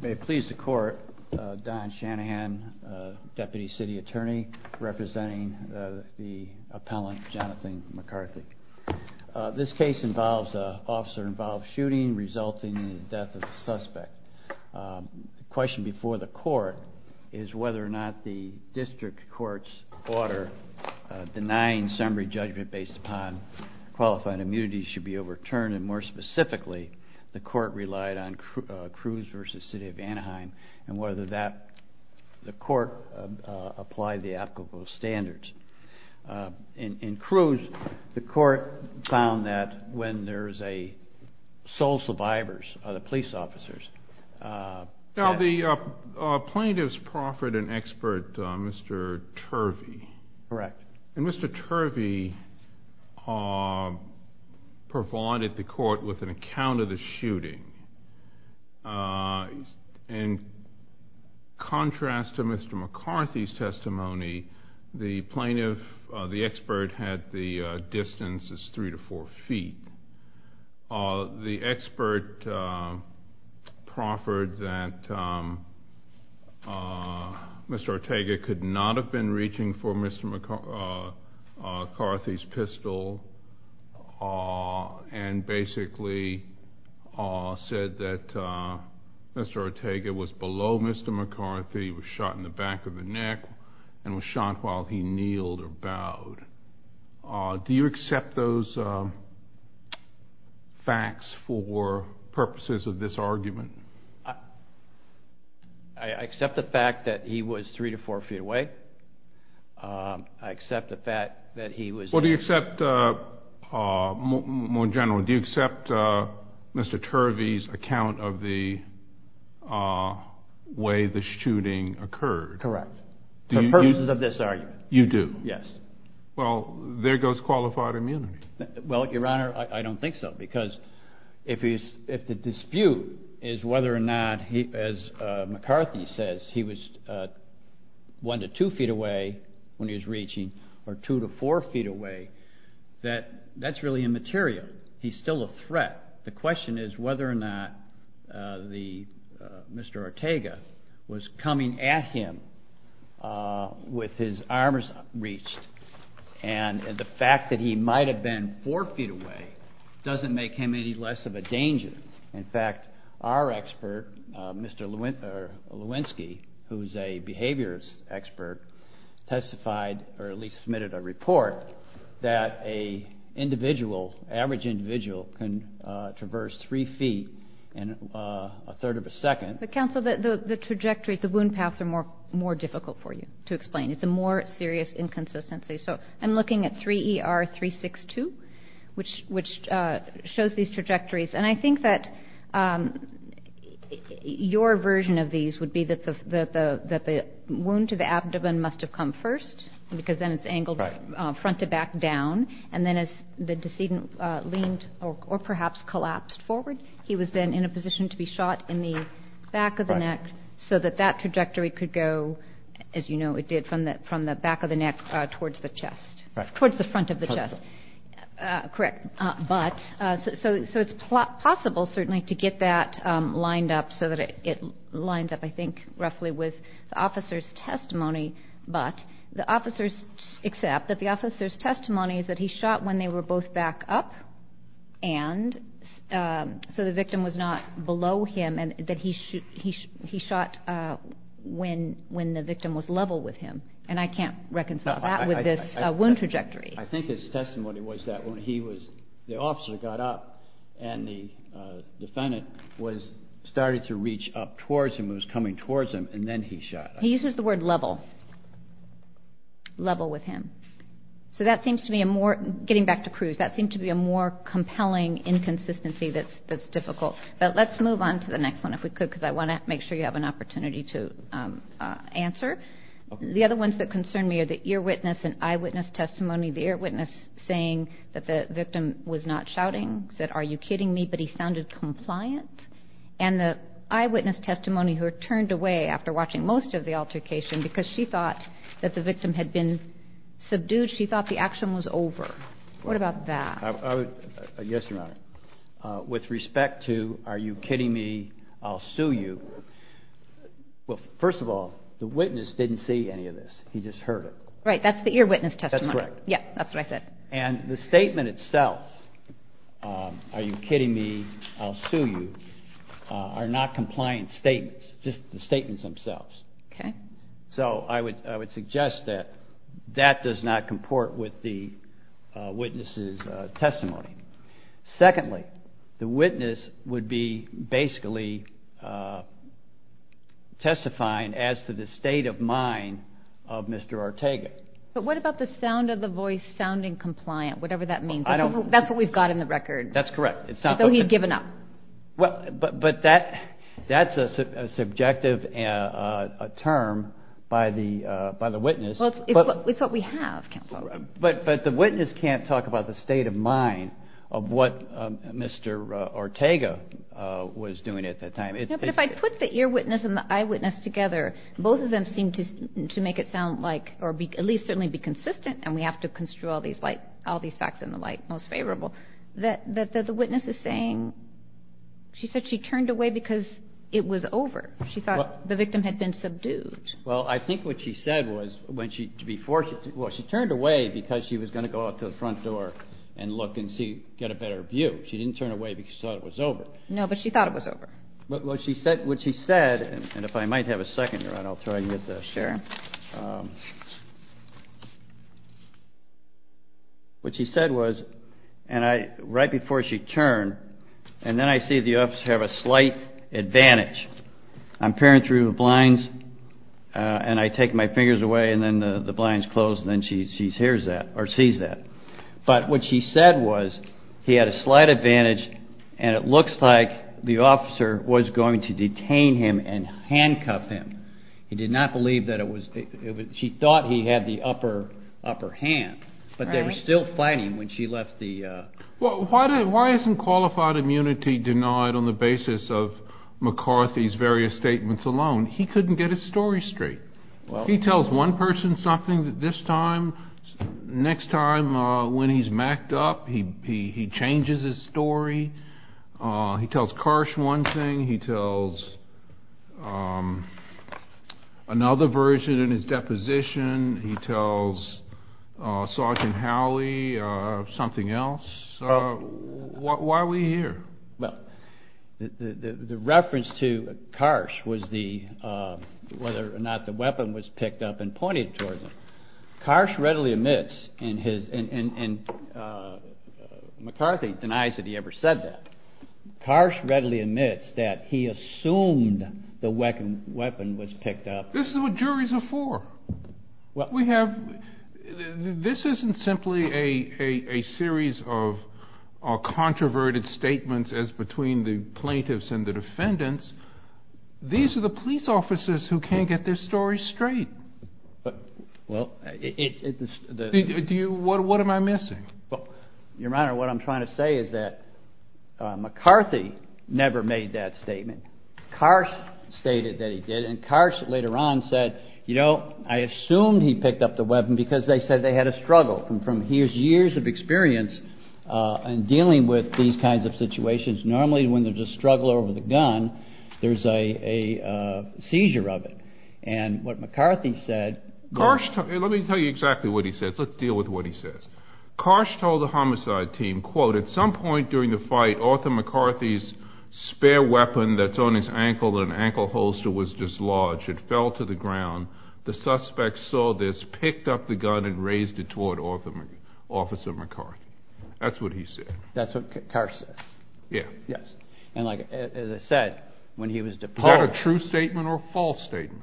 May it please the court, Don Shanahan, Deputy City Attorney, representing the appellant Jonathan McCarthy. This case involves a officer involved shooting resulting in the death of the suspect. The question before the court is whether or not the district court's order denying summary judgment based upon qualifying immunities should be overturned and more specifically the court relied on Cruz v. City of Anaheim and whether that the court applied the applicable standards. In Cruz the court found that when there's a sole survivors are the police officers. Now the plaintiff's proffered an expert Mr. Turvey. Correct. Mr. Turvey provided the court with an account of the shooting. In contrast to Mr. McCarthy's testimony the plaintiff the expert had the distance is three to four feet. The expert proffered that Mr. Ortega could not have been reaching for McCarthy's pistol and basically said that Mr. Ortega was below Mr. McCarthy was shot in the back of the neck and was shot while he kneeled or bowed. Do you accept those facts for purposes of this argument? I accept the fact that he was three to four feet away. I accept the fact that he was. Well do you accept more generally do you accept Mr. Turvey's account of the way the shooting occurred? Correct. For purposes of this argument. You do? Yes. Well there goes qualified immunity. Well your honor I don't think so because if he's if the dispute is whether or not he as McCarthy says he was one to two feet away when he was reaching or two to four feet away that that's really immaterial. He's still a threat. The question is whether or not the Mr. Ortega was coming at him with his arms reached and the fact that he might have been four feet away doesn't make him any less of a danger. In fact our expert Mr. Lewinsky who's a behaviors expert testified or at least submitted a report that a individual average individual can traverse three feet in a third of a second. But counsel the the trajectories the wound paths are more more difficult for you to explain. It's a more serious inconsistency. So I'm looking at 3 ER 362 which which shows these trajectories and I think that your version of these would be that the that the wound to the abdomen must have come first because then it's angled front to back down and then as the decedent leaned or perhaps collapsed forward he was then in a position to be shot in the back of the neck so that that trajectory could go as you know it did from that from the back of the neck towards the chest towards the front of the chest. Correct. But so it's possible certainly to get that lined up so that it lines up I think roughly with the officer's testimony but the officers accept that the officer's testimony is that he shot when they were both back up and so the victim was not below him and that he should he he shot when when the victim was level with him and I can't reconcile that with this wound trajectory. I think his testimony was that when he was the officer got up and the defendant was started to reach up towards him was coming towards him and then he shot. He uses the word level level with him. So that seems to be a more getting back to Cruz that seemed to be a more compelling inconsistency that's that's difficult but let's move on to the next one if we could because I want to make sure you have an earwitness and eyewitness testimony the eyewitness saying that the victim was not shouting said are you kidding me but he sounded compliant and the eyewitness testimony who are turned away after watching most of the altercation because she thought that the victim had been subdued she thought the action was over. What about that? Yes your honor. With respect to are you kidding me I'll sue you. Well first of all the witness didn't see any of this he just heard it. Right that's the earwitness testimony. That's correct. Yeah that's what I said. And the statement itself are you kidding me I'll sue you are not compliant statements just the statements themselves. Okay. So I would I would suggest that that does not comport with the witness's testimony. Secondly the witness would be basically testifying as to the state of mind of Mr. Ortega. But what about the sound of the voice sounding compliant whatever that means. I don't. That's what we've got in the record. That's correct. It's not. So he's given up. Well but but that that's a subjective term by the by the witness. Well it's what we have counsel. But but the witness can't talk about the state of mind of what Mr. Ortega was doing at the time. But if I put the earwitness and the eyewitness together both of them seem to to make it sound like or be at least certainly be consistent and we have to construe all these like all these facts in the light most favorable that that the witness is saying she said she turned away because it was over. She thought the victim had been subdued. Well I think what she said was when she before she well she turned away because she was going to go out to the front door and look and see get a better view. She didn't turn away because she thought it was over. No but she thought it was over. But what she said what she said and if I might have a second around I'll try and get this. Sure. What she said was and I right before she turned and then I see the officer have a slight advantage. I'm peering through the blinds and I take my fingers away and then the blinds close and then she hears that or sees that. But what she said was he had a slight advantage and it looks like the officer was going to detain him and handcuff him. He did not believe that it was it was she thought he had the upper upper hand but they were still fighting when she left the. Well why didn't why isn't qualified immunity denied on the basis of McCarthy's various statements alone? He couldn't get his story straight. Well he tells one person something that this time next time when he's macked up he changes his story. He tells Karsh one thing. He tells another version in his deposition. He tells Sergeant Howley something else. Why are we here? Well the reference to Karsh was the whether or not the weapon was picked up and pointed towards him. Karsh readily admits in his and McCarthy denies that he ever said that. Karsh readily admits that he assumed the weapon weapon was picked up. This is what juries are for. What we have this isn't simply a series of controverted statements as between the plaintiffs and the defendants. These are the police officers who can't get their story straight. What am I missing? Your Honor what I'm trying to say is that McCarthy never made that statement. Karsh stated that he did and Karsh later on said you know I assumed he picked up the weapon because they said they had a struggle from from his years of experience in dealing with these kinds of situations. Normally when there's a struggle over the gun there's a seizure of it and what McCarthy said. Let me tell you exactly what he says. Let's deal with what he says. Karsh told the homicide team quote at some point during the fight Arthur McCarthy's spare weapon that's on his ankle and ankle holster was dislodged. It fell to the ground. The suspects saw this picked up the gun and raised it toward officer McCarthy. That's what he said. That's what Karsh said. Yes and like I said when he was deposed. Is that a true statement or a false statement?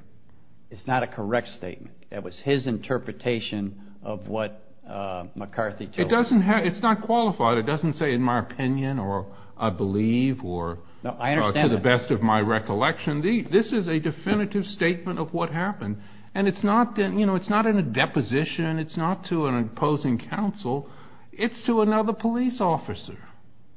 It's not a correct statement. That was his interpretation of what McCarthy told us. It doesn't have it's not qualified. It doesn't say in my opinion or I believe or to the best of my recollection. This is a definitive statement of what happened and it's not that you know it's not in a deposition. It's not to an opposing counsel. It's to another police officer.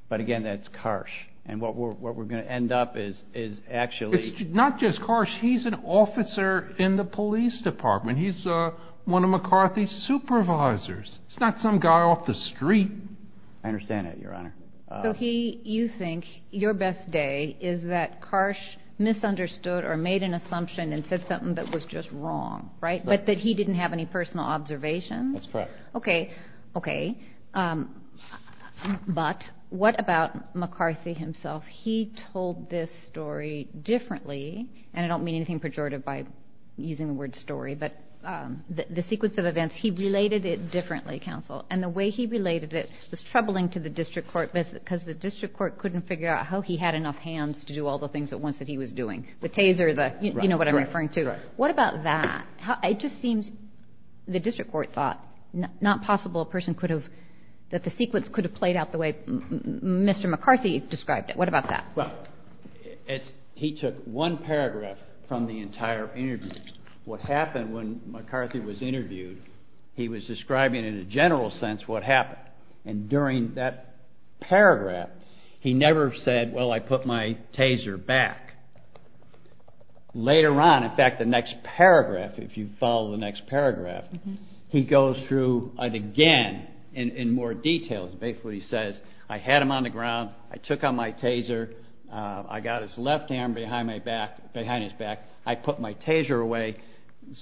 But again that's Karsh and what we're what we're gonna end up is is actually. It's not just Karsh. He's an officer in the police department. He's one of McCarthy's supervisors. It's not some guy off the street. I understand that your honor. So he you think your best day is that Karsh misunderstood or made an assumption and said something that was just wrong right but that he didn't have any personal observations? That's correct. Okay okay but what about McCarthy himself? He told this story differently and I don't mean anything pejorative by using the word story but the sequence of events. He related it differently counsel and the way he related it was troubling to the district court because the district court couldn't figure out how he had enough hands to do all the things that once that he was doing. The taser the you know what I'm referring to. What about that? It just seems the district court thought not possible a person could have that the sequence could have played out the way Mr. McCarthy described it. What about that? Well it's he took one paragraph from the entire interview. What happened when McCarthy was interviewed he was describing in a general sense what happened and during that paragraph he never said well I put my taser back. Later on in fact the next paragraph if you follow the next paragraph he goes through it again in more details basically he says I had him on the ground I took out my taser I got his left hand behind my back behind his back I put my taser away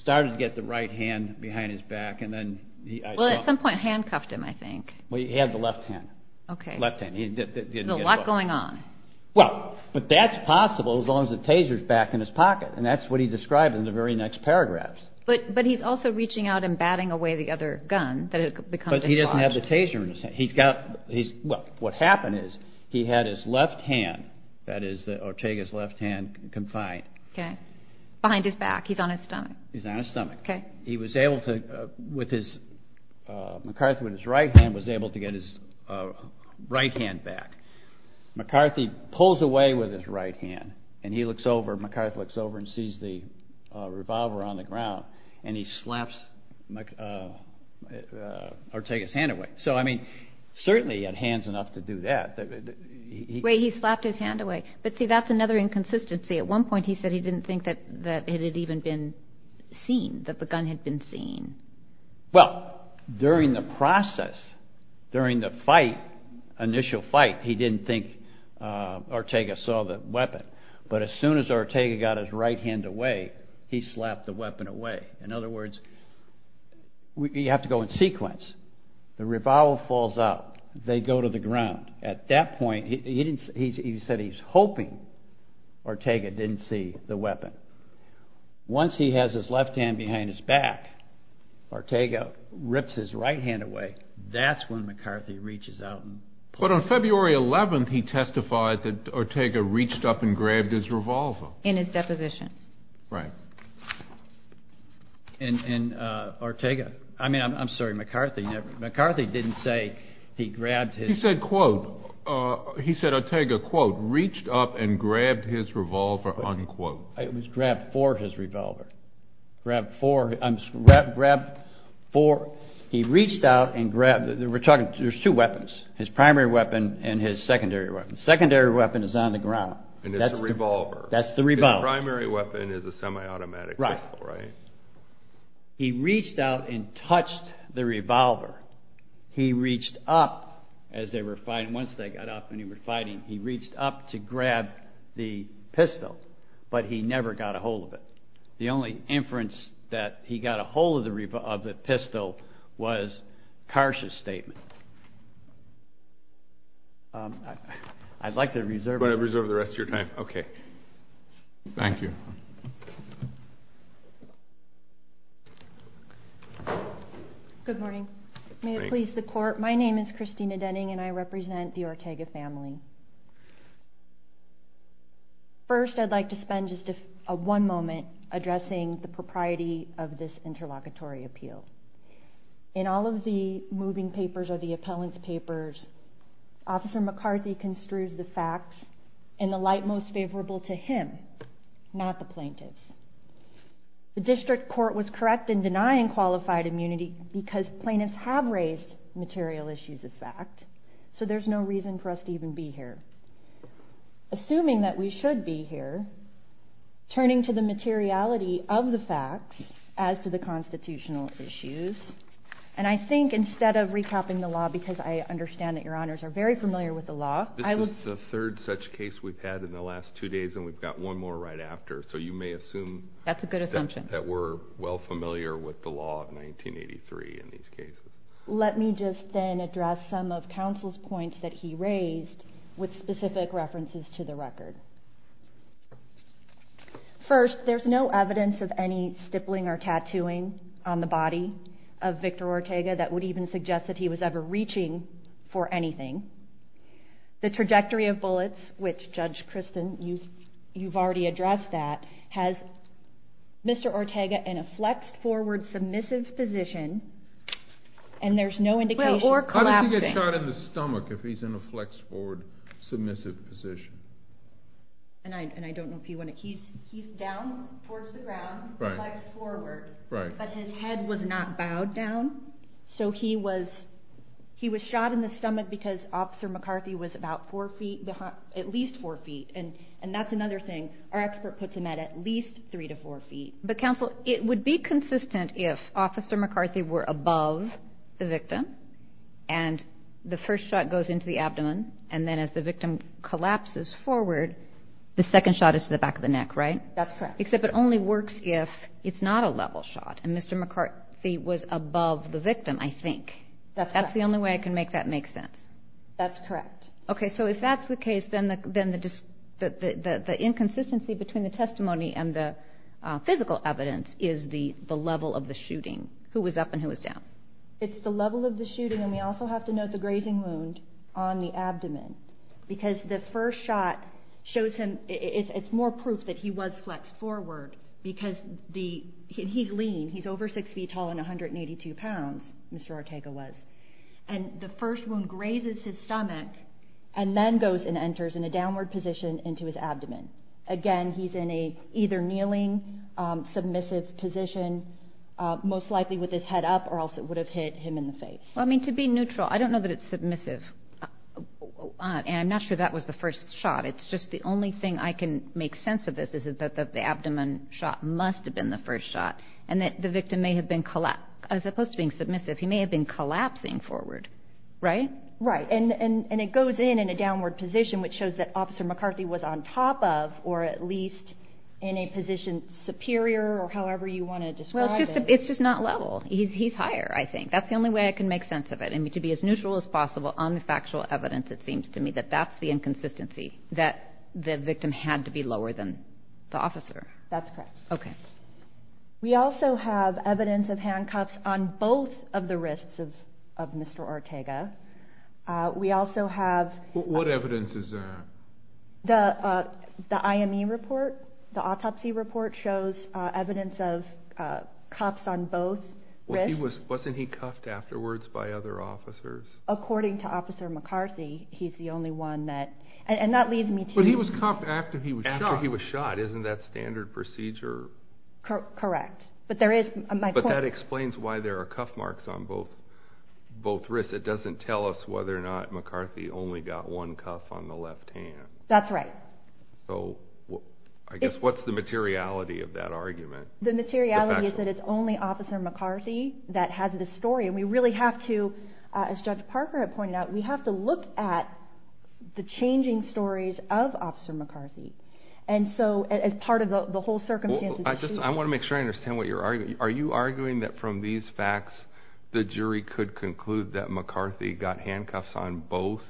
started to get the right hand behind his back and then at some point handcuffed him I think. Well he had the left hand. Okay. Left hand. There's a lot going on. Well but that's possible as long as the taser is back in his pocket and that's what he described in the very next paragraph. But he's also reaching out and batting away the other gun. But he doesn't have the taser in his hand he's got he's well what happened is he had his left hand that is Ortega's left hand confined. Okay. Behind his back he's on his stomach. He's on his stomach. Okay. He was able to with his McCarthy with his right hand was able to get his right hand back McCarthy pulls away with his right hand and he looks over McCarthy looks over and sees the revolver on the ground and he slaps Ortega's hand away. So I mean certainly he had hands enough to do that. Wait he slapped his hand away but see that's another inconsistency at one point he said he didn't think that that it had even been seen that the gun had been seen. Well during the process during the fight initial fight he didn't think Ortega saw the weapon but as soon as Ortega got his right hand away he slapped the weapon away. In other words we have to go in sequence the revolver falls out they go to the ground at that point he didn't he said he's hoping Ortega didn't see the right hand away. That's when McCarthy reaches out. But on February 11th he testified that Ortega reached up and grabbed his revolver. In his deposition. Right and Ortega I mean I'm sorry McCarthy never McCarthy didn't say he grabbed his. He said quote he said Ortega quote reached up and grabbed his revolver. Grabbed four he reached out and grabbed we're talking there's two weapons his primary weapon and his secondary weapon. The secondary weapon is on the ground. And it's a revolver. That's the revolver. The primary weapon is a semi-automatic right. He reached out and touched the revolver he reached up as they were fighting once they got up and he were fighting he reached up to grab the pistol but he never got a hold of it. The only inference that he got a hold of the pistol was Karsh's statement. I'd like to reserve the rest of your time. Okay. Thank you. Good morning. May it please the court. My name is Christina Denning and I First I'd like to spend just a one moment addressing the propriety of this interlocutory appeal. In all of the moving papers or the appellant's papers officer McCarthy construes the facts in the light most favorable to him not the plaintiffs. The district court was correct in denying qualified immunity because plaintiffs have raised material issues of fact. So there's no reason for us to even be here. Assuming that we should be here turning to the materiality of the facts as to the constitutional issues. And I think instead of recapping the law because I understand that your honors are very familiar with the law. This is the third such case we've had in the last two days and we've got one more right after so you may assume. That's a good assumption. That we're well familiar with the law of 1983 in these cases. Let me just then address some of counsel's points that he raised with specific references to the record. First there's no evidence of any stippling or tattooing on the body of Victor Ortega that would even suggest that he was ever reaching for anything. The trajectory of bullets which Judge Kristen you you've already addressed that has Mr. Ortega in a flexed forward submissive position. And there's no indication. Or collapsing. How does he get shot in the stomach if he's in a flexed forward submissive position? And I don't know if you want to. He's down towards the ground. Flexed forward. But his head was not bowed down. So he was he was shot in the stomach because officer McCarthy was about four feet behind at least four feet. And and that's another thing our expert puts him at at least three to four feet. But counsel it would be consistent if officer McCarthy were above the victim and the first shot goes into the abdomen and then as the victim collapses forward the second shot is to the back of the neck right? That's correct. Except it only works if it's not a level shot and Mr. McCarthy was above the victim I think. That's the only way I can make that make sense. That's correct. Okay so if that's the case then the inconsistency between the medical evidence is the the level of the shooting. Who was up and who was down? It's the level of the shooting and we also have to note the grazing wound on the abdomen. Because the first shot shows him it's more proof that he was flexed forward because the he's lean he's over six feet tall and 182 pounds Mr. Ortega was. And the first one grazes his stomach and then goes and enters in a downward position into his abdomen. Again he's in a either kneeling submissive position most likely with his head up or else it would have hit him in the face. I mean to be neutral I don't know that it's submissive and I'm not sure that was the first shot it's just the only thing I can make sense of this is that the abdomen shot must have been the first shot and that the victim may have been as opposed to being submissive he may have been collapsing forward right? Right and it goes in in a downward position which shows that officer McCarthy was on top of or at least in a position superior or however you want to describe it. It's just not level he's higher I think that's the only way I can make sense of it and to be as neutral as possible on the factual evidence it seems to me that that's the inconsistency that the victim had to be lower than the officer. That's correct. Okay. We also have evidence of handcuffs on both of the wrists of Mr. Ortega. We also have. What evidence is that? The IME report, the autopsy report shows evidence of cuffs on both wrists. Wasn't he cuffed afterwards by other officers? According to officer McCarthy he's the only one that and that leads me to. But he was cuffed after he was shot. Isn't that standard procedure? Correct but there is. But that explains why there are cuff marks on both wrists it doesn't tell us whether or not McCarthy only got one cuff on the left hand. That's right. So I guess what's the materiality of that argument? The materiality is that it's only officer McCarthy that has this story and we really have to as Judge Parker had pointed out we have to look at the changing stories of officer McCarthy. And so as part of the whole circumstance. I just I want to make sure I understand what you're arguing. Are you arguing that from these facts the jury could conclude that McCarthy got handcuffs on both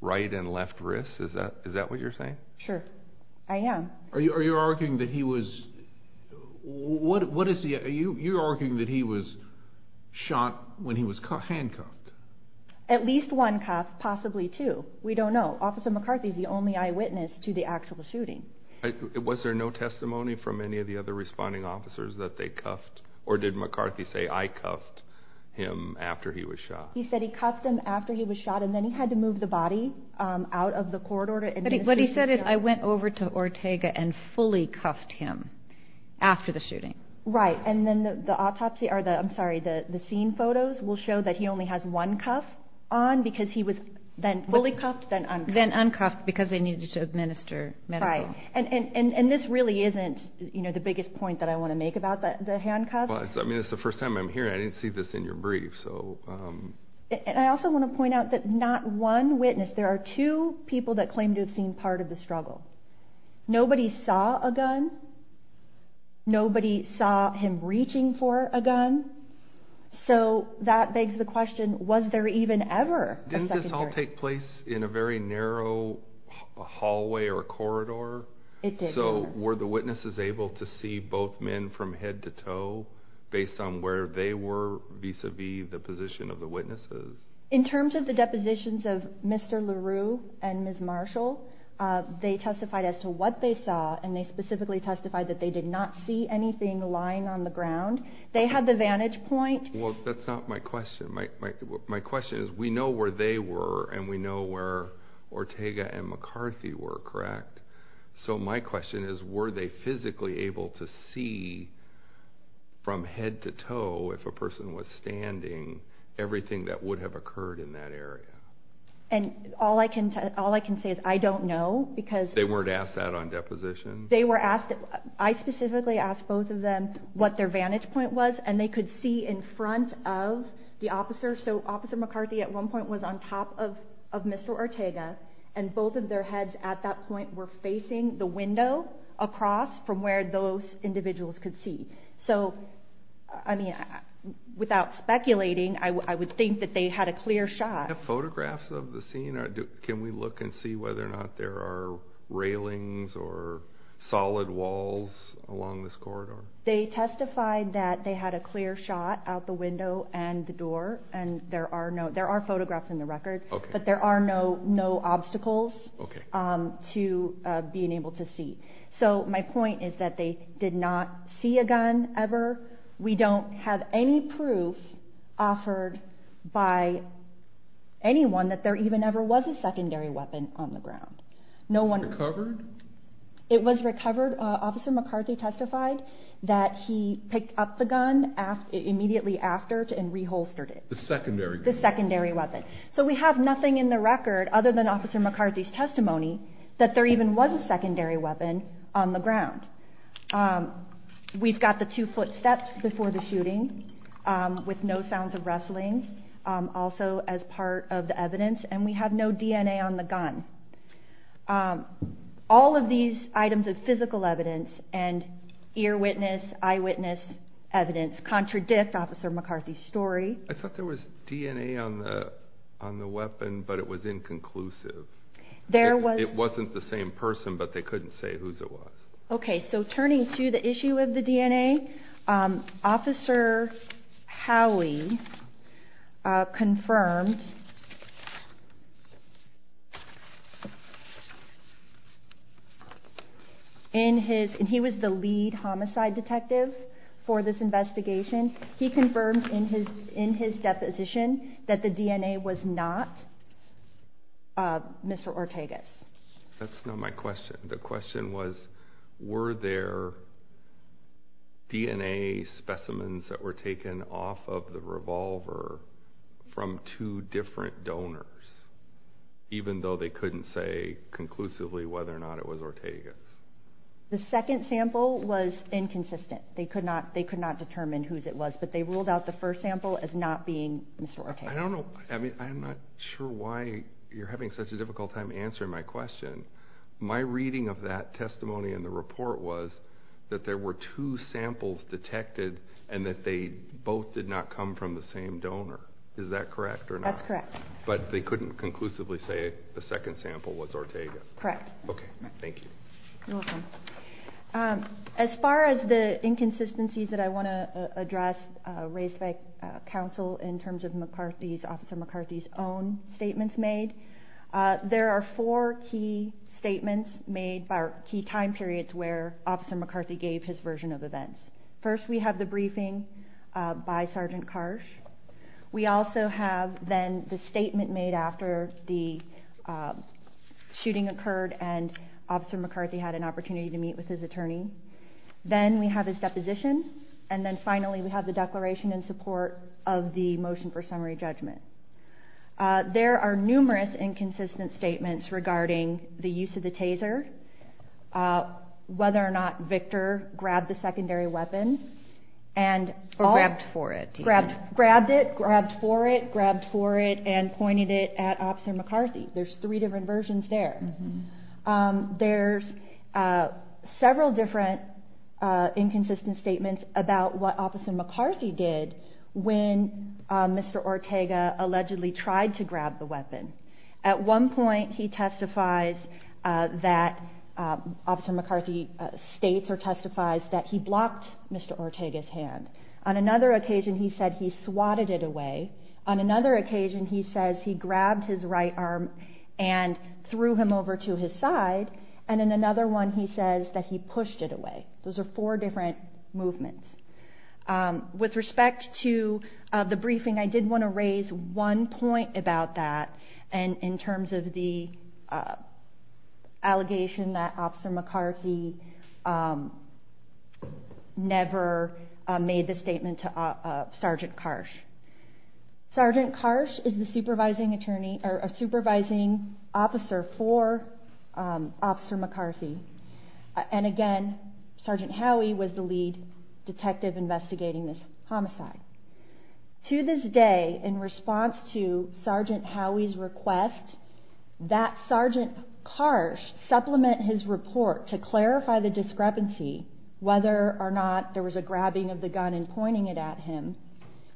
right and left wrists? Is that is that what you're saying? Sure I am. Are you are you arguing that he was what what is he are you you're arguing that he was shot when he was handcuffed? At least one cuff possibly two. We don't know. Officer McCarthy is the only eyewitness to the actual shooting. Was there no testimony from any of the other responding officers that they cuffed or did McCarthy say I cuffed him after he was shot? He said he cuffed him after he was shot and then he had to move the body out of the corridor. What he said is I went over to Ortega and fully cuffed him after the shooting. Right and then the autopsy or the I'm sorry the the scene photos will show that he only has one cuff on because he was then fully cuffed then uncuffed. Then uncuffed because they needed to administer medical. Right and and and and this really isn't you know the biggest point that I want to make about that the handcuffs. I mean it's the first time I'm hearing I didn't see this in your brief so. And I also want to point out that not one witness there are two people that claim to have seen part of the struggle. Nobody saw a gun. Nobody saw him reaching for a gun. So that begs the question was there even ever. Didn't this all take place in a very narrow hallway or corridor? It did. So were the witnesses able to see both men from head to toe based on where they were vis-a-vis the position of the witnesses? In terms of the depositions of Mr. LaRue and Ms. Marshall they testified as to what they saw and they specifically testified that they did not see anything lying on the ground. They had the vantage point. Well that's not my question. My my my question is we know where they were and we know where Ortega and McCarthy were correct? So my question is were they physically able to see from head to toe if a person was standing everything that would have occurred in that area? And all I can all I can say is I don't know because they weren't asked that on deposition. They were asked I specifically asked both of them what their vantage point was and they could see in front of the officer. So officer McCarthy at one point was on top of of Mr. Ortega and both of their heads at that point were facing the window across from where those individuals could see. So I mean without speculating I would think that they had a clear shot. Do you have photographs of the scene? Can we look and see whether or not there are railings or solid walls along this corridor? They testified that they had a clear shot out the window and the door and there are no there are photographs in the record. Okay. But there are no no obstacles. Okay. To be able to see. So my point is that they did not see a gun ever. We don't have any proof offered by anyone that there even ever was a secondary weapon on the ground. No one recovered. It was recovered. Officer McCarthy testified that he picked up the gun after immediately after and reholstered it. The secondary the secondary weapon. So we have nothing in the record other than officer McCarthy's testimony that there even was a weapon on the ground. We've got the two foot steps before the shooting with no sounds of rustling also as part of the evidence and we have no DNA on the gun. All of these items of physical evidence and ear witness eye witness evidence contradict officer McCarthy's story. I thought there was DNA on the on the weapon but it was inconclusive. There was it wasn't the same person but they couldn't say whose it was. Okay. So turning to the issue of the DNA officer Howie confirmed in his and he was the lead homicide detective for this investigation. He confirmed in his in his deposition that the DNA was not Mr. Ortega's. That's not my question. The question was were there DNA specimens that were taken off of the revolver from two different donors even though they couldn't say conclusively whether or not it was Ortega. The second sample was inconsistent. They could not they could not determine whose it was but they ruled out the first sample as not being Mr. Ortega. I don't know. I mean I'm not sure why you're having such a difficult time answering my question. My reading of that testimony in the report was that there were two samples detected and that they both did not come from the same donor. Is that correct or not. That's correct. But they couldn't conclusively say the second sample was Ortega. Correct. Okay. Thank you. You're welcome. As far as the inconsistencies that I want to address raised by counsel in terms of McCarthy's officer McCarthy's own statements made. There are four key statements made by key time periods where officer McCarthy gave his version of events. First we have the briefing by Sergeant Karsh. We also have then the statement made after the shooting occurred and officer McCarthy had an opportunity to meet with his attorney. Then we have his deposition. And then finally we have the declaration in support of the motion for summary judgment. There are numerous inconsistent statements regarding the use of the taser. Whether or not Victor grabbed the secondary weapon and grabbed for it grabbed it grabbed for it grabbed for it and pointed it at officer McCarthy. There's three different versions there. There's several different inconsistent statements about what officer McCarthy did when Mr. Ortega allegedly tried to grab the weapon. At one point he testifies that officer McCarthy states or testifies that he blocked Mr. Ortega's hand. On another occasion he said he swatted it away. On another occasion he says he grabbed his right arm and threw him over to his side. And in another one he says that he pushed it away. Those are four different movements. With respect to the briefing I did want to raise one point about that. And in terms of the allegation that officer McCarthy never made the statement to Sergeant Karsh. Sergeant Karsh is the supervising attorney or supervising attorney for officer McCarthy. And again Sergeant Howey was the lead detective investigating this homicide. To this day in response to Sergeant Howey's request that Sergeant Karsh supplement his report to clarify the discrepancy whether or not there was a grabbing of the gun and pointing it at him.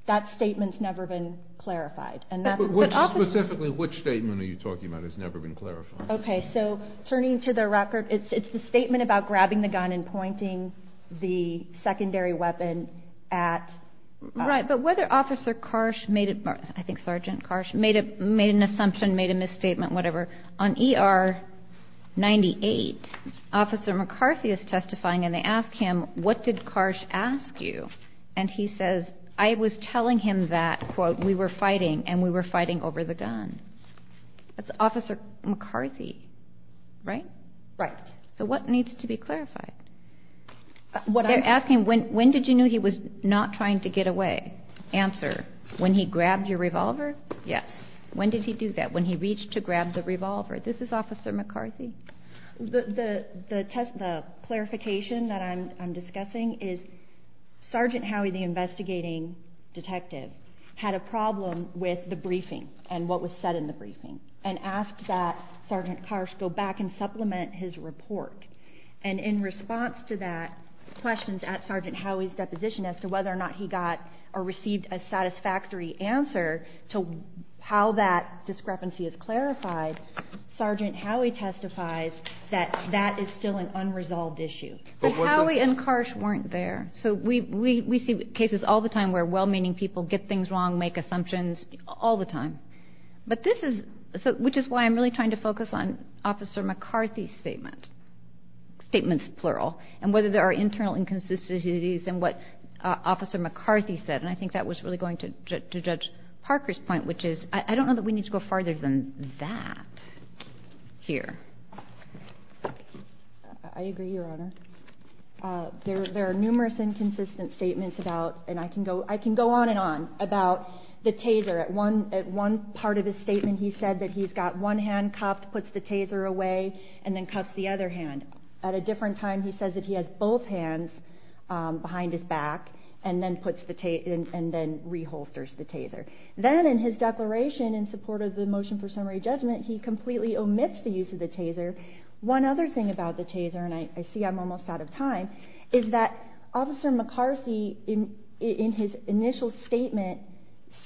That statement has never been clarified. Specifically which statement are you talking about has never been clarified? Okay so turning to the record it's the statement about grabbing the gun and pointing the secondary weapon at... Right but whether officer Karsh made an assumption made a misstatement whatever. On ER 98 officer McCarthy is testifying and they ask him what did Karsh ask you? And he says I was telling him that quote we were fighting and we were fighting over the gun. That's officer McCarthy. Right? Right. So what needs to be clarified? They're asking when did you know he was not trying to get away? Answer, when he grabbed your revolver? Yes. When did he do that? When he reached to grab the revolver? This is officer McCarthy? The test the clarification that I'm discussing is Sergeant Howey the investigating detective had a problem with the briefing and what was said in the briefing and asked that Sergeant Karsh go back and supplement his report and in response to that questions at Sergeant Howey's deposition as to whether or not he got or received a satisfactory answer to how that discrepancy is clarified. Sergeant Howey testifies that that is still an unresolved issue. But Howey and Karsh weren't there so we see cases all the time where well-meaning people get things wrong make assumptions all the time. But this is which is why I'm really trying to focus on officer McCarthy's statement. Statements plural and whether there are internal inconsistencies in what officer McCarthy said and I think that was really going to judge Parker's point which is I don't know that we need to go farther than that. I agree your honor. There are numerous inconsistent statements about and I can go I can go on and on about the taser at one at one part of the statement he said that he's got one hand cuffed puts the taser away and then cuffs the other hand at a different time he says that he has both hands behind his back and then puts the taser and then reholsters the taser. Then in his declaration in support of the motion for summary judgment he completely omits the use of the taser. One other thing about the taser and I see I'm almost out of time is that officer McCarthy in his initial statement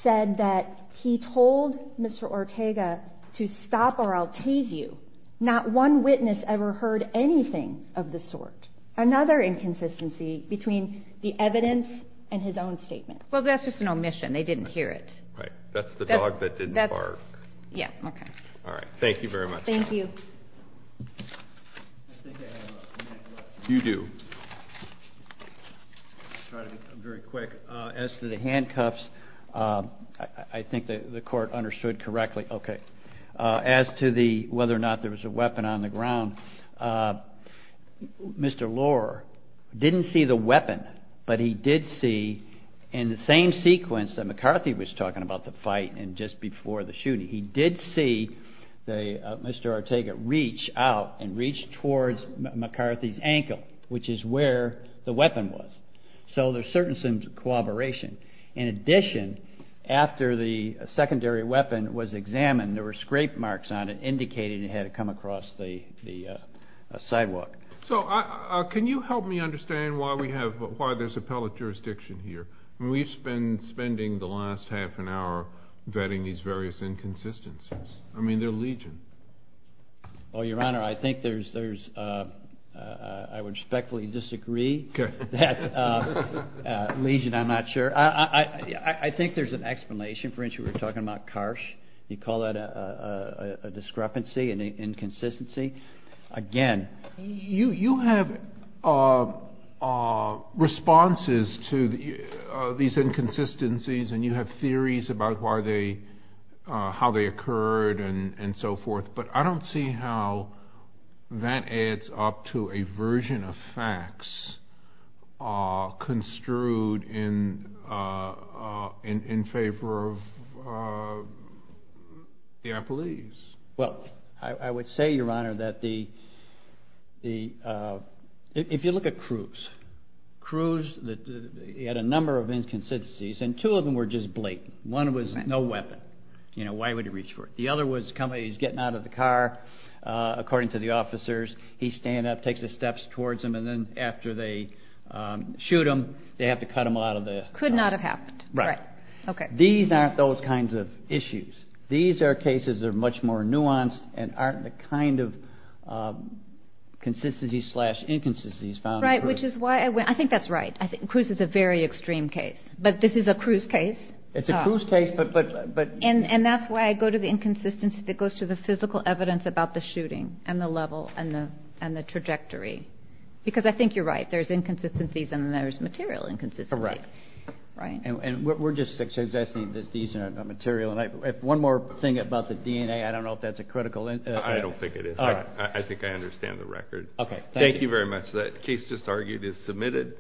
said that he told Mr. Ortega to stop or I'll tase you. Not one witness ever heard anything of the sort. Another inconsistency between the evidence and his own statement. Well that's just an omission. They didn't hear it. Right. That's the dog that didn't bark. Yeah. Okay. All right. Thank you very much. Thank you. You do. Very quick. As to the handcuffs I think that the court understood correctly. Okay. As to the whether or not there was a weapon on the ground Mr. Lohr didn't see the weapon but he did see in the same sequence that McCarthy was talking about the fight and just before the shooting he did see the Mr. Ortega reach out and grab the weapon. And reach towards McCarthy's ankle which is where the weapon was. So there's certainly some cooperation. In addition after the secondary weapon was examined there were scrape marks on it indicating it had come across the sidewalk. So can you help me understand why we have why there's appellate jurisdiction here. We've been spending the last half an hour vetting these various inconsistencies. I mean they're legion. Well your honor I think there's there's I would respectfully disagree that legion I'm not sure. I think there's an explanation. For instance we're talking about Karsh. You call that a discrepancy an inconsistency. Again you have responses to these inconsistencies and you have theories about how they occurred and so forth. But I don't see how that adds up to a version of facts construed in favor of the appellees. Well I would say your honor that the if you look at Cruz. Cruz had a number of inconsistencies and two of them were just blatant. One was no weapon. You know why would he reach for it. The other was he's getting out of the car according to the officers. He stands up takes the steps towards him and then after they shoot him they have to cut him out of the car. Right. Okay. These aren't those kinds of issues. These are cases are much more nuanced and aren't the kind of consistency slash inconsistencies found. Right. Which is why I think that's right. I think Cruz is a very extreme case. But this is a Cruz case. It's a Cruz case but. And that's why I go to the inconsistency that goes to the physical evidence about the shooting and the level and the trajectory. Because I think you're right there's inconsistencies and there's material inconsistencies. Correct. Right. And we're just suggesting that these are material and I have one more thing about the DNA. I don't know if that's a critical. I don't think it is. I think I understand the record. Okay. Thank you very much. That case just argued is submitted.